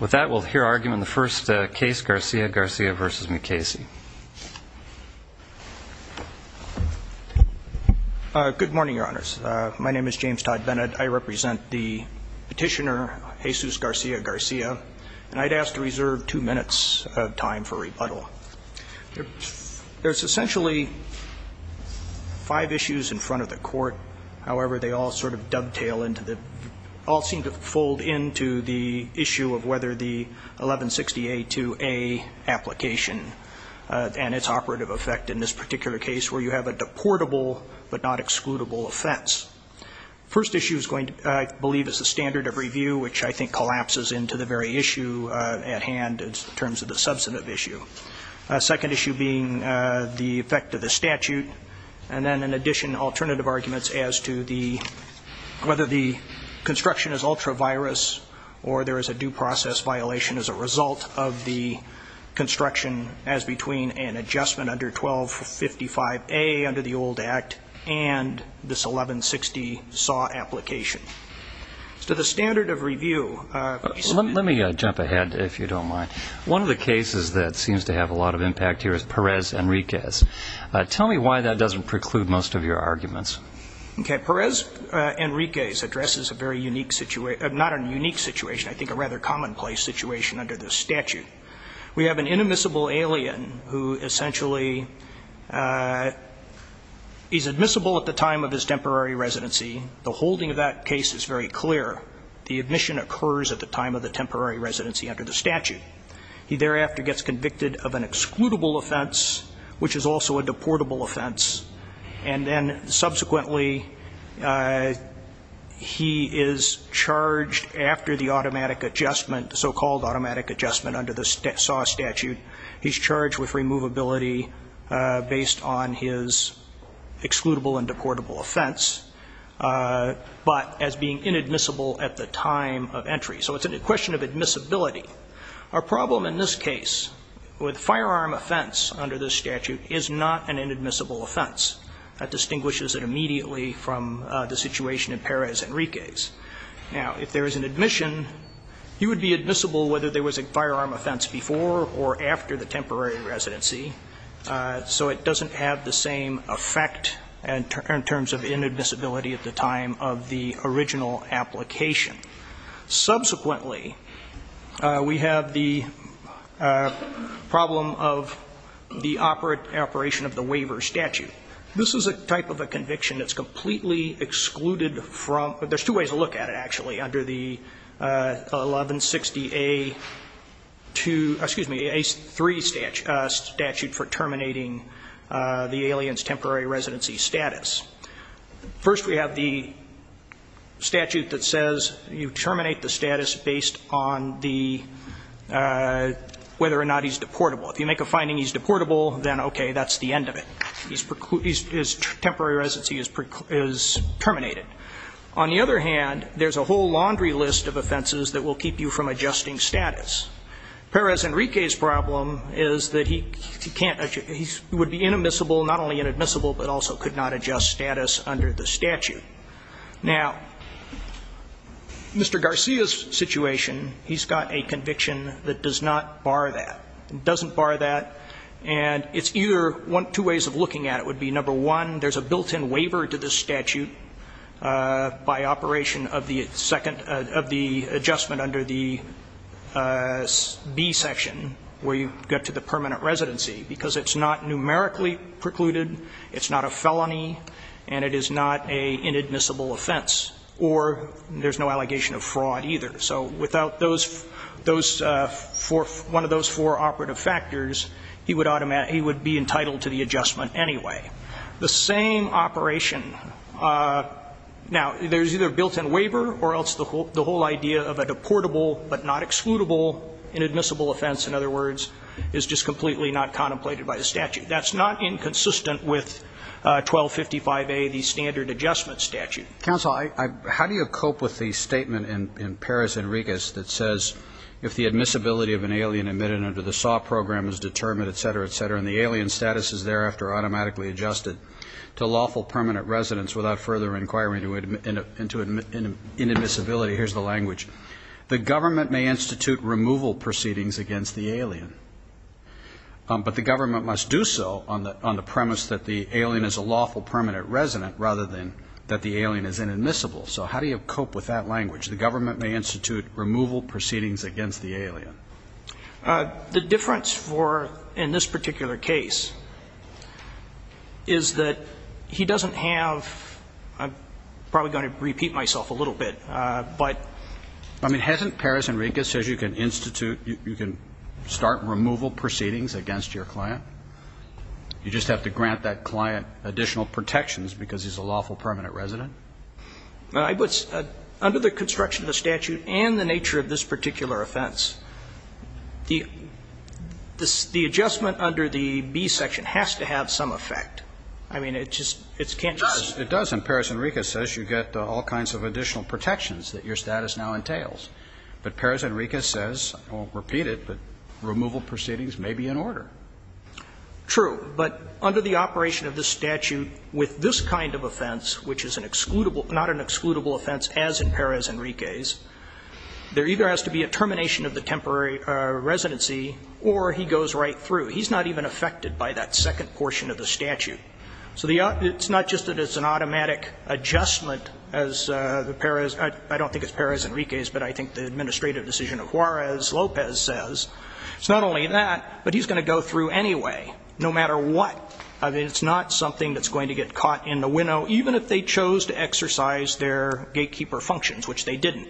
With that, we'll hear argument in the first case, Garcia-Garcia v. Mukasey. Good morning, Your Honors. My name is James Todd Bennett. I represent the petitioner, Jesus Garcia-Garcia. And I'd ask to reserve two minutes of time for rebuttal. There's essentially five issues in front of the court. However, they all sort of dovetail into the, all seem to fold into the issue of whether the 1160A2A application and its operative effect in this particular case where you have a deportable but not excludable offense. First issue is going to, I believe, is the standard of review, which I think collapses into the very issue at hand in terms of the substantive issue. Second issue being the effect of the statute. And then, in addition, alternative arguments as to the, whether the construction is ultra-virus or there is a due process violation as a result of the construction as between an adjustment under 1255A under the old act and this 1160 SAW application. To the standard of review. Let me jump ahead, if you don't mind. One of the cases that seems to have a lot of impact here is Perez-Enriquez. Tell me why that doesn't preclude most of your arguments. Perez-Enriquez addresses a very unique situation, not a unique situation, I think a rather commonplace situation under the statute. We have an inadmissible alien who essentially is admissible at the time of his temporary residency. The holding of that case is very clear. The admission occurs at the time of the temporary residency under the statute. He thereafter gets convicted of an excludable offense, which is also a deportable offense. And then, subsequently, he is charged after the automatic adjustment, the so-called automatic adjustment under the SAW statute. He's charged with removability based on his excludable and deportable offense, but as being inadmissible at the time of entry. So it's a question of admissibility. Our problem in this case with firearm offense under this statute is not an inadmissible offense. That distinguishes it immediately from the situation in Perez-Enriquez. Now, if there is an admission, he would be admissible whether there was a firearm offense before or after the temporary residency. So it doesn't have the same effect in terms of inadmissibility at the time of the original application. Subsequently, we have the problem of the operation of the waiver statute. This is a type of a conviction that's completely excluded from, there's two ways to look at it, actually, under the 1160A3 statute for terminating the alien's temporary residency status. First, we have the statute that says you terminate the status based on the, whether or not he's deportable. If you make a finding he's deportable, then okay, that's the end of it. His temporary residency is terminated. On the other hand, there's a whole laundry list of offenses that will keep you from adjusting status. Perez-Enriquez's problem is that he can't, he would be inadmissible, not only inadmissible, but also could not adjust status under the statute. Now, Mr. Garcia's situation, he's got a conviction that does not bar that. It doesn't bar that, and it's either, two ways of looking at it would be, number one, there's a built-in waiver to the statute by operation of the adjustment under the B section where you get to the permanent residency because it's not numerically precluded, it's not a felony, and it is not an inadmissible offense, or there's no allegation of fraud either. So without one of those four operative factors, he would be entitled to the adjustment anyway. The same operation, now, there's either a built-in waiver or else the whole idea of a deportable but not excludable inadmissible offense, in other words, is just completely not contemplated by the statute. That's not inconsistent with 1255A, the standard adjustment statute. Counsel, how do you cope with the statement in Perez-Enriquez that says, if the admissibility of an alien admitted under the SAW program is determined, et cetera, et cetera, and the alien's status is thereafter automatically adjusted to lawful permanent residence without further inquiry into inadmissibility, here's the language, the government may institute removal proceedings against the alien, but the government must do so on the premise that the alien is a lawful permanent resident rather than that the alien is inadmissible. So how do you cope with that language, the government may institute removal proceedings against the alien? The difference for, in this particular case, is that he doesn't have, I'm probably going to repeat myself a little bit, but... I mean, hasn't Perez-Enriquez said you can institute, you can start removal proceedings against your client? You just have to grant that client additional protections because he's a lawful permanent resident? Under the construction of the statute and the nature of this particular offense, the adjustment under the B section has to have some effect. I mean, it just can't just... It does, and Perez-Enriquez says you get all kinds of additional protections that your status now entails. But Perez-Enriquez says, I won't repeat it, but removal proceedings may be in order. True, but under the operation of this statute with this kind of offense, which is not an excludable offense as in Perez-Enriquez, there either has to be a termination of the temporary residency or he goes right through. He's not even affected by that second portion of the statute. So it's not just that it's an automatic adjustment as the Perez... I don't think it's Perez-Enriquez, but I think the administrative decision of Juarez-Lopez says. It's not only that, but he's going to go through anyway, no matter what. I mean, it's not something that's going to get caught in the winnow, even if they chose to exercise their gatekeeper functions, which they didn't.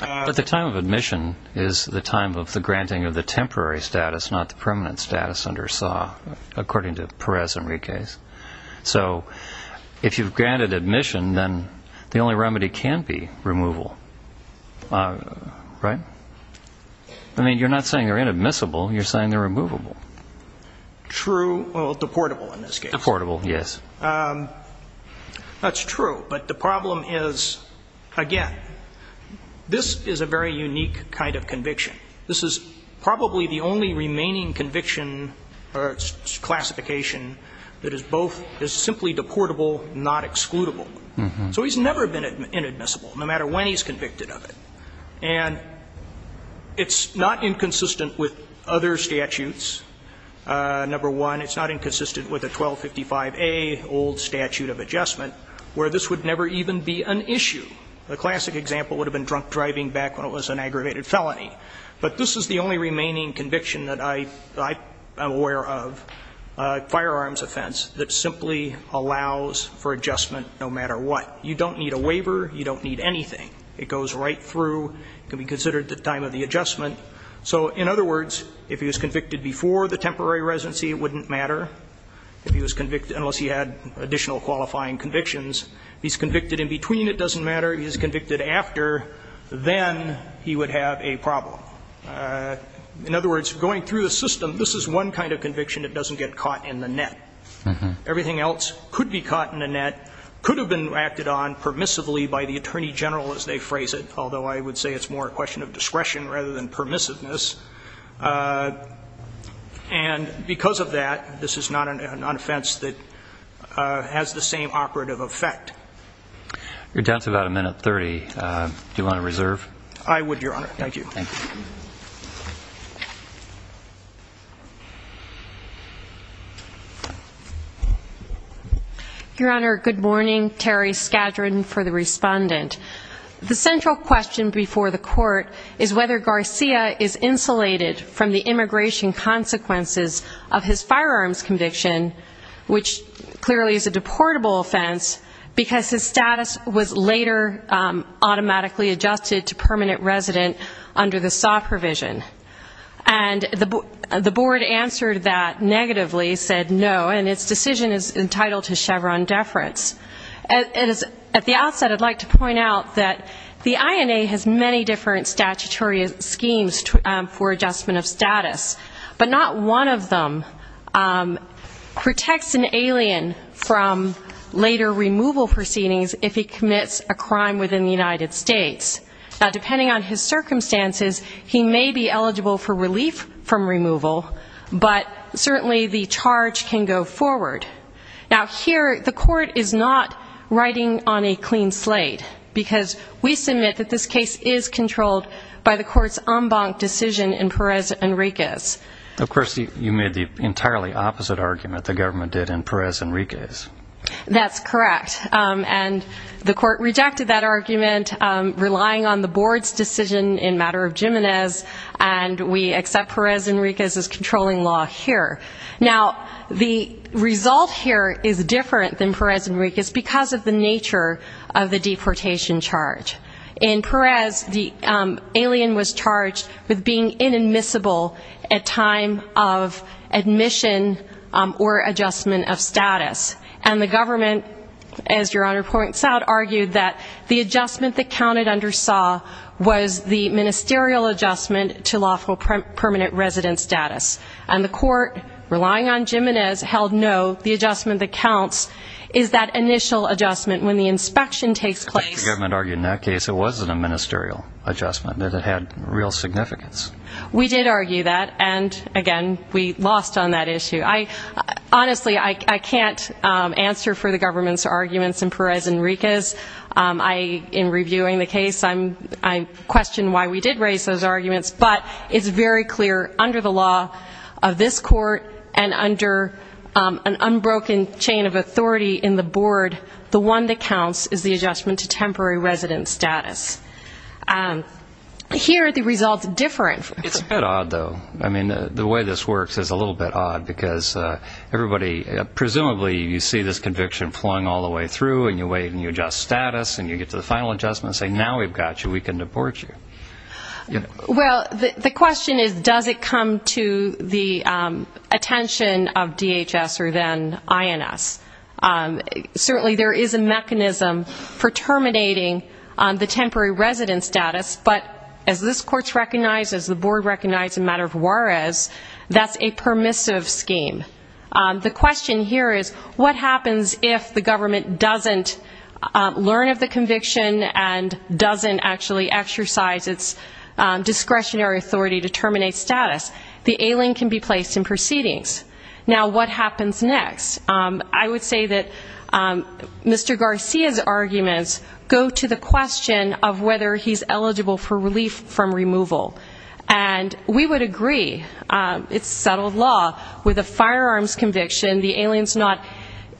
But the time of admission is the time of the granting of the temporary status, not the permanent status under SAW, according to Perez-Enriquez. So if you've granted admission, then the only remedy can be removal, right? I mean, you're not saying they're inadmissible. You're saying they're removable. True, well, deportable in this case. Deportable, yes. That's true. But the problem is, again, this is a very unique kind of conviction. This is probably the only remaining conviction or classification that is simply deportable, not excludable. So he's never been inadmissible, no matter when he's convicted of it. And it's not inconsistent with other statutes. Number one, it's not inconsistent with the 1255A old statute of adjustment, where this would never even be an issue. The classic example would have been drunk driving back when it was an aggravated felony. But this is the only remaining conviction that I am aware of, a firearms offense, that simply allows for adjustment no matter what. You don't need a waiver. You don't need anything. It goes right through. It can be considered the time of the adjustment. So in other words, if he was convicted before the temporary residency, it wouldn't matter. If he was convicted unless he had additional qualifying convictions. If he's convicted in between, it doesn't matter. If he's convicted after, then he would have a problem. In other words, going through the system, this is one kind of conviction that doesn't get caught in the net. Everything else could be caught in the net, could have been acted on permissively by the attorney general, as they phrase it. Although I would say it's more a question of discretion rather than permissiveness. And because of that, this is not an offense that has the same operative effect. You're down to about a minute 30. Do you want to reserve? I would, Your Honor. Thank you. Thank you. Your Honor, good morning. Terry Skadron for the respondent. The central question before the court is whether Garcia is insulated from the immigration consequences of his firearms conviction, which clearly is a deportable offense, because his status was later automatically adjusted to permanent resident under the SAW provision. And the board answered that negatively, said no, and its decision is entitled to Chevron deference. At the outset, I'd like to point out that the INA has many different statutory schemes for adjustment of status, but not one of them protects an alien from later removal proceedings if he commits a crime within the United States. Now, depending on his circumstances, he may be eligible for relief from removal, but certainly the charge can go forward. Now, here the court is not riding on a clean slate, because we submit that this case is controlled by the court's en banc decision in Perez Enriquez. Of course, you made the entirely opposite argument the government did in Perez Enriquez. That's correct. And the court rejected that argument, relying on the board's decision in matter of Jimenez, and we accept Perez Enriquez's controlling law here. Now, the result here is different than Perez Enriquez because of the nature of the deportation charge. In Perez, the alien was charged with being inadmissible at time of admission or adjustment of status. And the government, as Your Honor points out, argued that the adjustment that counted under SAW was the ministerial adjustment to lawful permanent resident status. And the court, relying on Jimenez, held no, the adjustment that counts is that initial adjustment when the inspection takes place. But the government argued in that case it wasn't a ministerial adjustment, that it had real significance. We did argue that, and again, we lost on that issue. Honestly, I can't answer for the government's arguments in Perez Enriquez. In reviewing the case, I question why we did raise those arguments, but it's very clear under the law of this court and under an unbroken chain of authority in the board, the one that counts is the adjustment to temporary resident status. Here, the result's different. It's a bit odd, though. I mean, the way this works is a little bit odd because everybody, presumably, you see this conviction flung all the way through and you wait and you adjust status and you get to the final adjustment and say, now we've got you, we can deport you. Well, the question is, does it come to the attention of DHS or then INS? Certainly there is a mechanism for terminating the temporary resident status, but as this court recognizes, the board recognizes in the matter of Juarez, that's a permissive scheme. The question here is, what happens if the government doesn't learn of the discretionary authority to terminate status? The alien can be placed in proceedings. Now, what happens next? I would say that Mr. Garcia's arguments go to the question of whether he's eligible for relief from removal, and we would agree, it's settled law, with a firearms conviction, the alien's not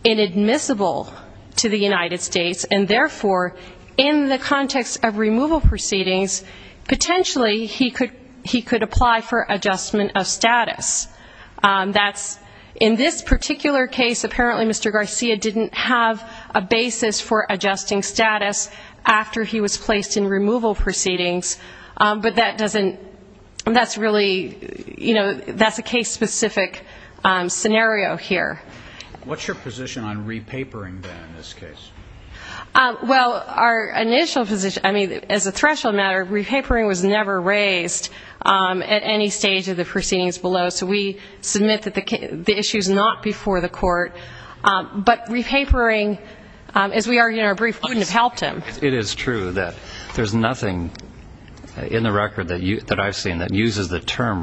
inadmissible to the United States, and therefore, in the context of removal proceedings, potentially he could apply for adjustment of status. That's, in this particular case, apparently Mr. Garcia didn't have a basis for adjusting status after he was placed in removal proceedings, but that doesn't, that's really, you know, that's a case-specific scenario here. What's your position on repapering, then, in this case? Well, our initial position, I mean, as a threshold matter, repapering was never raised at any stage of the proceedings below, so we submit that the issue's not before the court, but repapering, as we argue in our brief, wouldn't have helped him. It is true that there's nothing in the record that I've seen that uses the term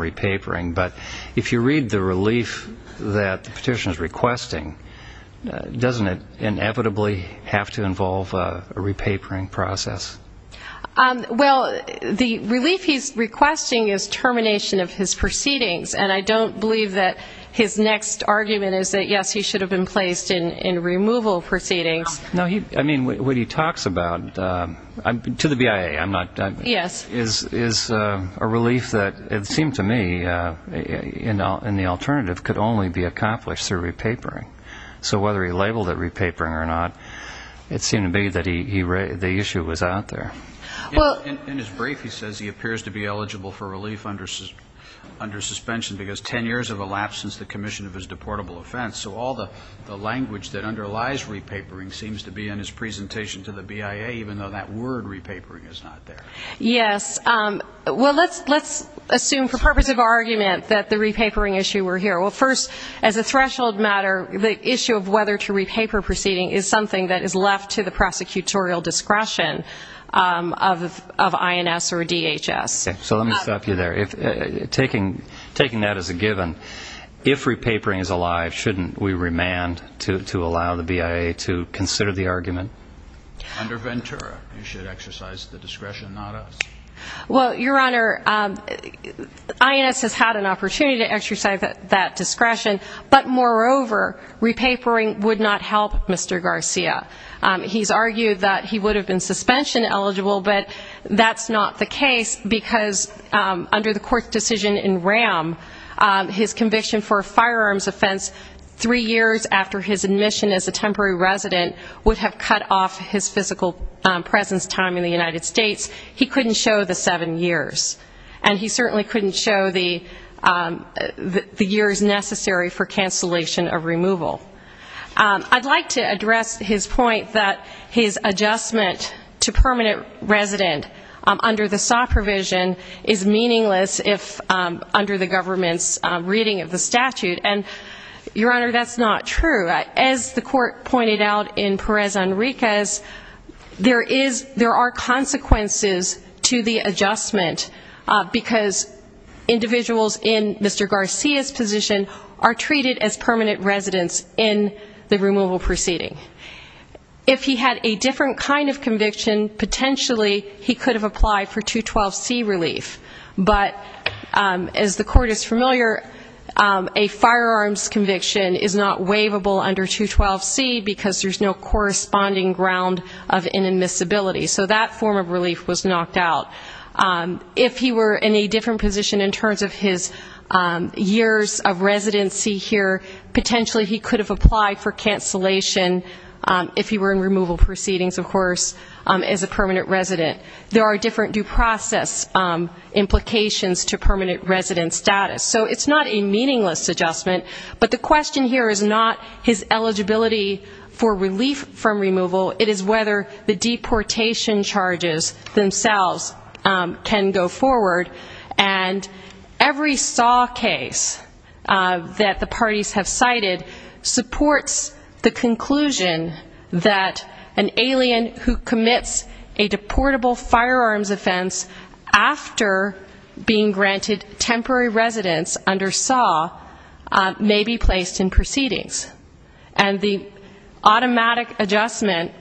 Doesn't it inevitably have to involve a repapering process? Well, the relief he's requesting is termination of his proceedings, and I don't believe that his next argument is that, yes, he should have been placed in removal proceedings. No, I mean, what he talks about, to the BIA, I'm not, is a relief that it seemed to me, in the alternative, could only be accomplished through repapering. So whether he labeled it repapering or not, it seemed to me that the issue was out there. In his brief, he says he appears to be eligible for relief under suspension because 10 years have elapsed since the commission of his deportable offense, so all the language that underlies repapering seems to be in his presentation to the BIA, even though that word, repapering, is not there. Yes. Well, let's assume, for purpose of argument, that the repapering issue were here. Well, first, as a threshold matter, the issue of whether to repaper proceeding is something that is left to the prosecutorial discretion of INS or DHS. So let me stop you there. Taking that as a given, if repapering is alive, shouldn't we remand to allow the BIA to consider the argument? Under Ventura, you should exercise the discretion, not us. Well, Your Honor, INS has had an opportunity to exercise that discretion, but moreover, repapering would not help Mr. Garcia. He's argued that he would have been suspension eligible, but that's not the case because under the court's decision in RAM, his conviction for a firearms offense three years after his admission as a temporary resident would have cut off his physical presence time in the United States. He couldn't show the seven years, and he certainly couldn't show the years necessary for cancellation of removal. I'd like to address his point that his adjustment to permanent resident under the SAW provision is meaningless under the government's reading of the statute. And, Your Honor, that's not true. As the court pointed out in Perez-Enriquez, there are consequences to the adjustment because individuals in Mr. Garcia's position are treated as permanent residents in the removal proceeding. If he had a different kind of conviction, potentially he could have applied for 212C relief. But as the court is familiar, a firearms conviction is not waivable under 212C because there's no corresponding ground of inadmissibility. So that form of relief was knocked out. If he were in a different position in terms of his years of residency here, potentially he could have applied for cancellation if he were in removal proceedings, of course, as a permanent resident. There are different due process implications to permanent resident status. So it's not a meaningless adjustment. But the question here is not his eligibility for relief from removal. It is whether the deportation charges themselves can go forward. And every SAW case that the parties have cited supports the conclusion that an alien who commits a deportable firearms offense after being granted temporary residence under SAW may be placed in proceedings. And the automatic adjustment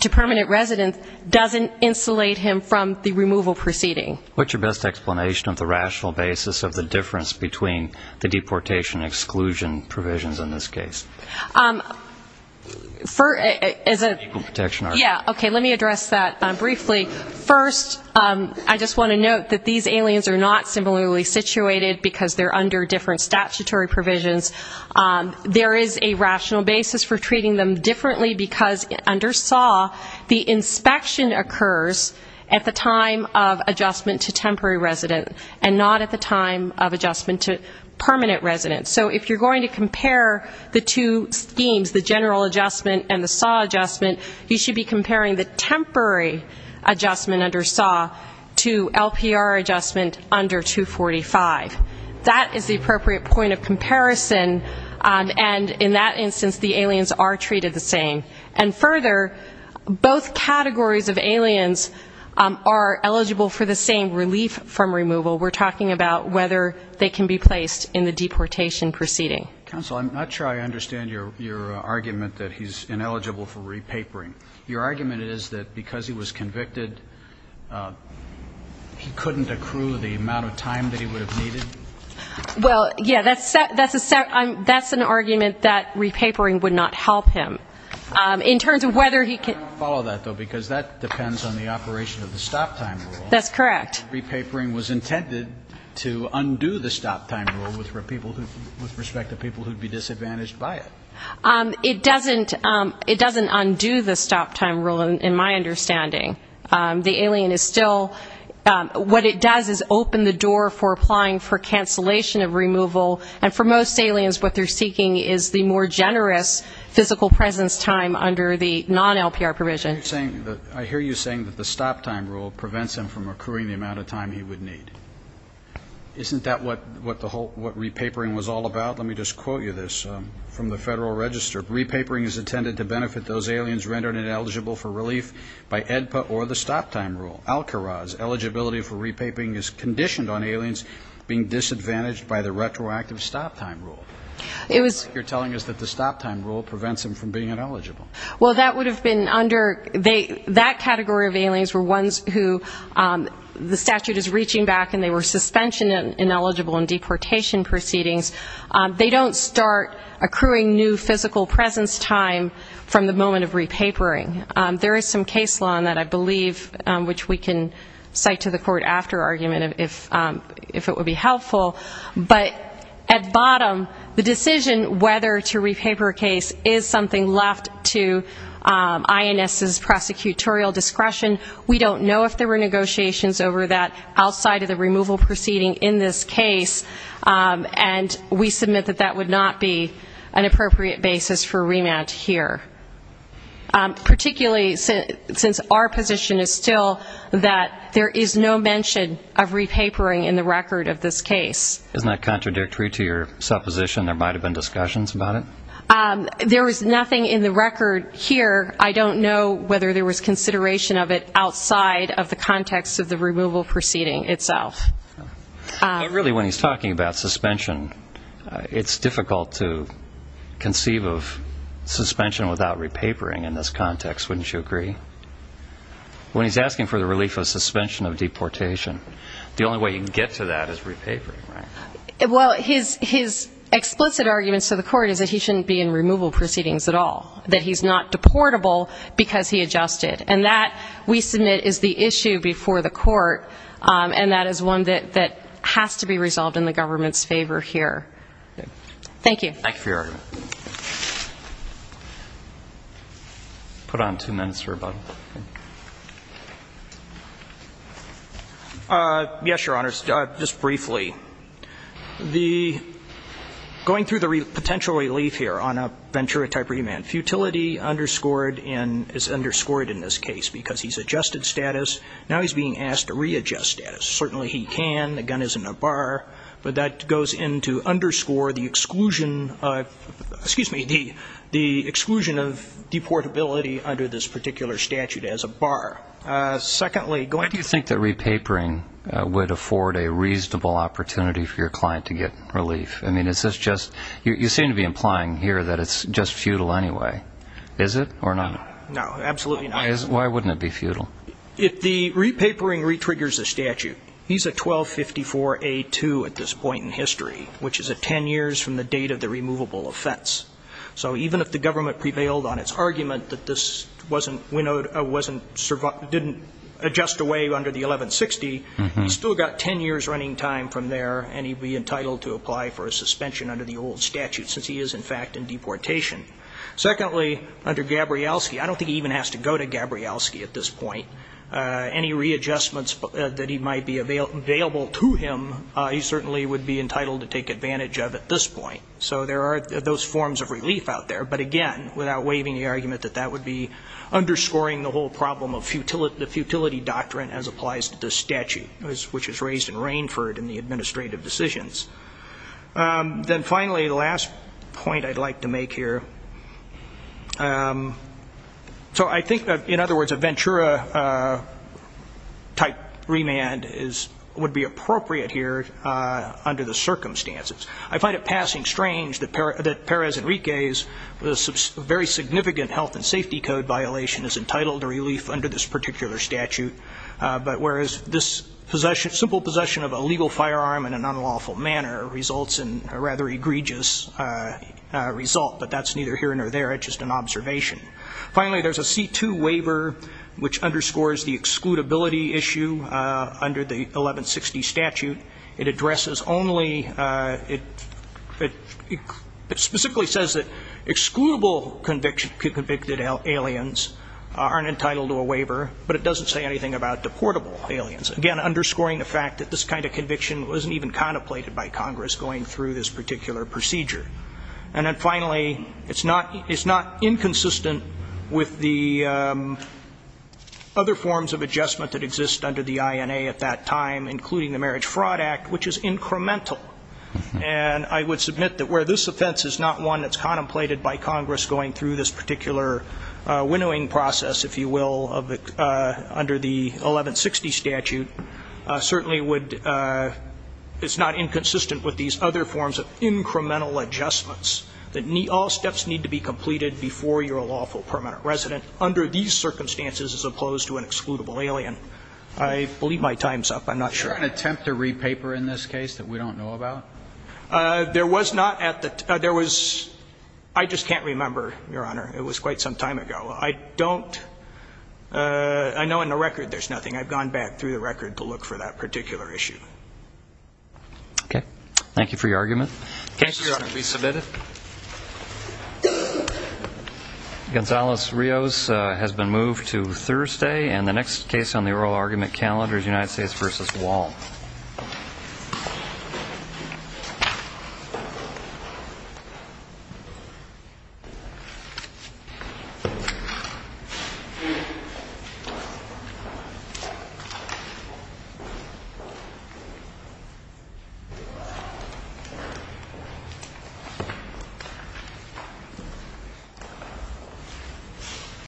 to permanent resident doesn't insulate him from the removal proceeding. What's your best explanation of the rational basis of the difference between the deportation exclusion provisions in this case? Yeah, okay, let me address that briefly. First, I just want to note that these aliens are not similarly situated because they're under different statutory provisions. There is a rational basis for treating them differently because under SAW the inspection occurs at the time of adjustment to temporary resident and not at the time of adjustment to permanent resident. So if you're going to compare the two schemes, the general adjustment and the SAW adjustment, you should be comparing the temporary adjustment under SAW to LPR adjustment under 245. That is the appropriate point of comparison, and in that instance the aliens are treated the same. And further, both categories of aliens are eligible for the same relief from removal. We're talking about whether they can be placed in the deportation proceeding. Counsel, I'm not sure I understand your argument that he's ineligible for repapering. Your argument is that because he was convicted, he couldn't accrue the amount of time that he would have needed? Well, yeah, that's an argument that repapering would not help him. In terms of whether he could... I don't follow that, though, because that depends on the operation of the stop-time rule. That's correct. Repapering was intended to undo the stop-time rule with respect to people who would be disadvantaged by it. It doesn't undo the stop-time rule in my understanding. The alien is still what it does is open the door for applying for cancellation of removal, and for most aliens what they're seeking is the more generous physical presence time under the non-LPR provision. I hear you saying that the stop-time rule prevents him from accruing the amount of time he would need. Isn't that what repapering was all about? Let me just quote you this from the Federal Register. Repapering is intended to benefit those aliens rendered ineligible for relief by AEDPA or the stop-time rule. Al-Kharaz, eligibility for repapering is conditioned on aliens being disadvantaged by the retroactive stop-time rule. You're telling us that the stop-time rule prevents them from being ineligible. Well, that would have been under... That category of aliens were ones who the statute is reaching back and they were suspension ineligible in deportation proceedings. They don't start accruing new physical presence time from the moment of repapering. There is some case law in that, I believe, which we can cite to the court after argument if it would be helpful. But at bottom, the decision whether to repaper a case is something left to INS's prosecutorial discretion. We don't know if there were negotiations over that outside of the removal proceeding in this case, and we submit that that would not be an appropriate basis for remand here. Particularly since our position is still that there is no mention of repapering in the record of this case. Isn't that contradictory to your supposition there might have been discussions about it? There is nothing in the record here. I don't know whether there was consideration of it outside of the context of the removal proceeding itself. But really, when he's talking about suspension, it's difficult to conceive of suspension without repapering in this context, wouldn't you agree? When he's asking for the relief of suspension of deportation, the only way you can get to that is repapering, right? Well, his explicit argument to the court is that he shouldn't be in removal proceedings at all. That he's not deportable because he adjusted. And that, we submit, is the issue before the court, and that is one that has to be resolved in the government's favor here. Thank you. Thank you for your argument. Put on two minutes for rebuttal. Yes, Your Honor, just briefly. Going through the potential relief here on a venturotype remand, futility underscored and is underscored in this case because he's adjusted status. Now he's being asked to readjust status. Certainly he can. The gun is in a bar. But that goes in to underscore the exclusion, excuse me, the exclusion of deportability under this particular statute as a bar. Why do you think that repapering would afford a reasonable opportunity for your client to get relief? I mean, is this just, you seem to be implying here that it's just futile anyway. Is it or not? No, absolutely not. Why wouldn't it be futile? The repapering re-triggers the statute. He's a 1254A2 at this point in history, which is 10 years from the date of the removable offense. So even if the government prevailed on its argument that this didn't adjust away under the 1160, he's still got 10 years running time from there, and he'd be entitled to apply for a suspension under the old statute since he is, in fact, in deportation. Secondly, under Gabrielski, I don't think he even has to go to Gabrielski at this point. Any readjustments that might be available to him, he certainly would be entitled to take advantage of at this point. So there are those forms of relief out there. But, again, without waiving the argument that that would be underscoring the whole problem of the futility doctrine as applies to this statute, which was raised in Rainford in the administrative decisions. Then, finally, the last point I'd like to make here. So I think, in other words, a Ventura-type remand would be appropriate here under the circumstances. I find it passing strange that Perez Enrique's very significant health and safety code violation is entitled to relief under this particular statute, whereas this simple possession of a legal firearm in an unlawful manner results in a rather egregious result. But that's neither here nor there. It's just an observation. Finally, there's a C-2 waiver, which underscores the excludability issue under the 1160 statute. It addresses only ñ it specifically says that excludable convicted aliens aren't entitled to a waiver, but it doesn't say anything about deportable aliens. Again, underscoring the fact that this kind of conviction wasn't even contemplated by Congress going through this particular procedure. And then, finally, it's not inconsistent with the other forms of adjustment that exist under the INA at that time, including the Marriage Fraud Act, which is incremental. And I would submit that where this offense is not one that's contemplated by Congress going through this particular winnowing process, if you will, under the 1160 statute, certainly would ñ it's not inconsistent with these other forms of incremental adjustments that all steps need to be completed before you're a lawful permanent resident under these circumstances as opposed to an excludable alien. I believe my time's up. I'm not sure. Is there an attempt to re-paper in this case that we don't know about? There was not at the ñ there was ñ I just can't remember, Your Honor. It was quite some time ago. I don't ñ I know in the record there's nothing. I've gone back through the record to look for that particular issue. Okay. Thank you for your argument. The case, Your Honor, be submitted. Gonzales-Rios has been moved to Thursday. And the next case on the oral argument calendar is United States v. Wall. Thank you.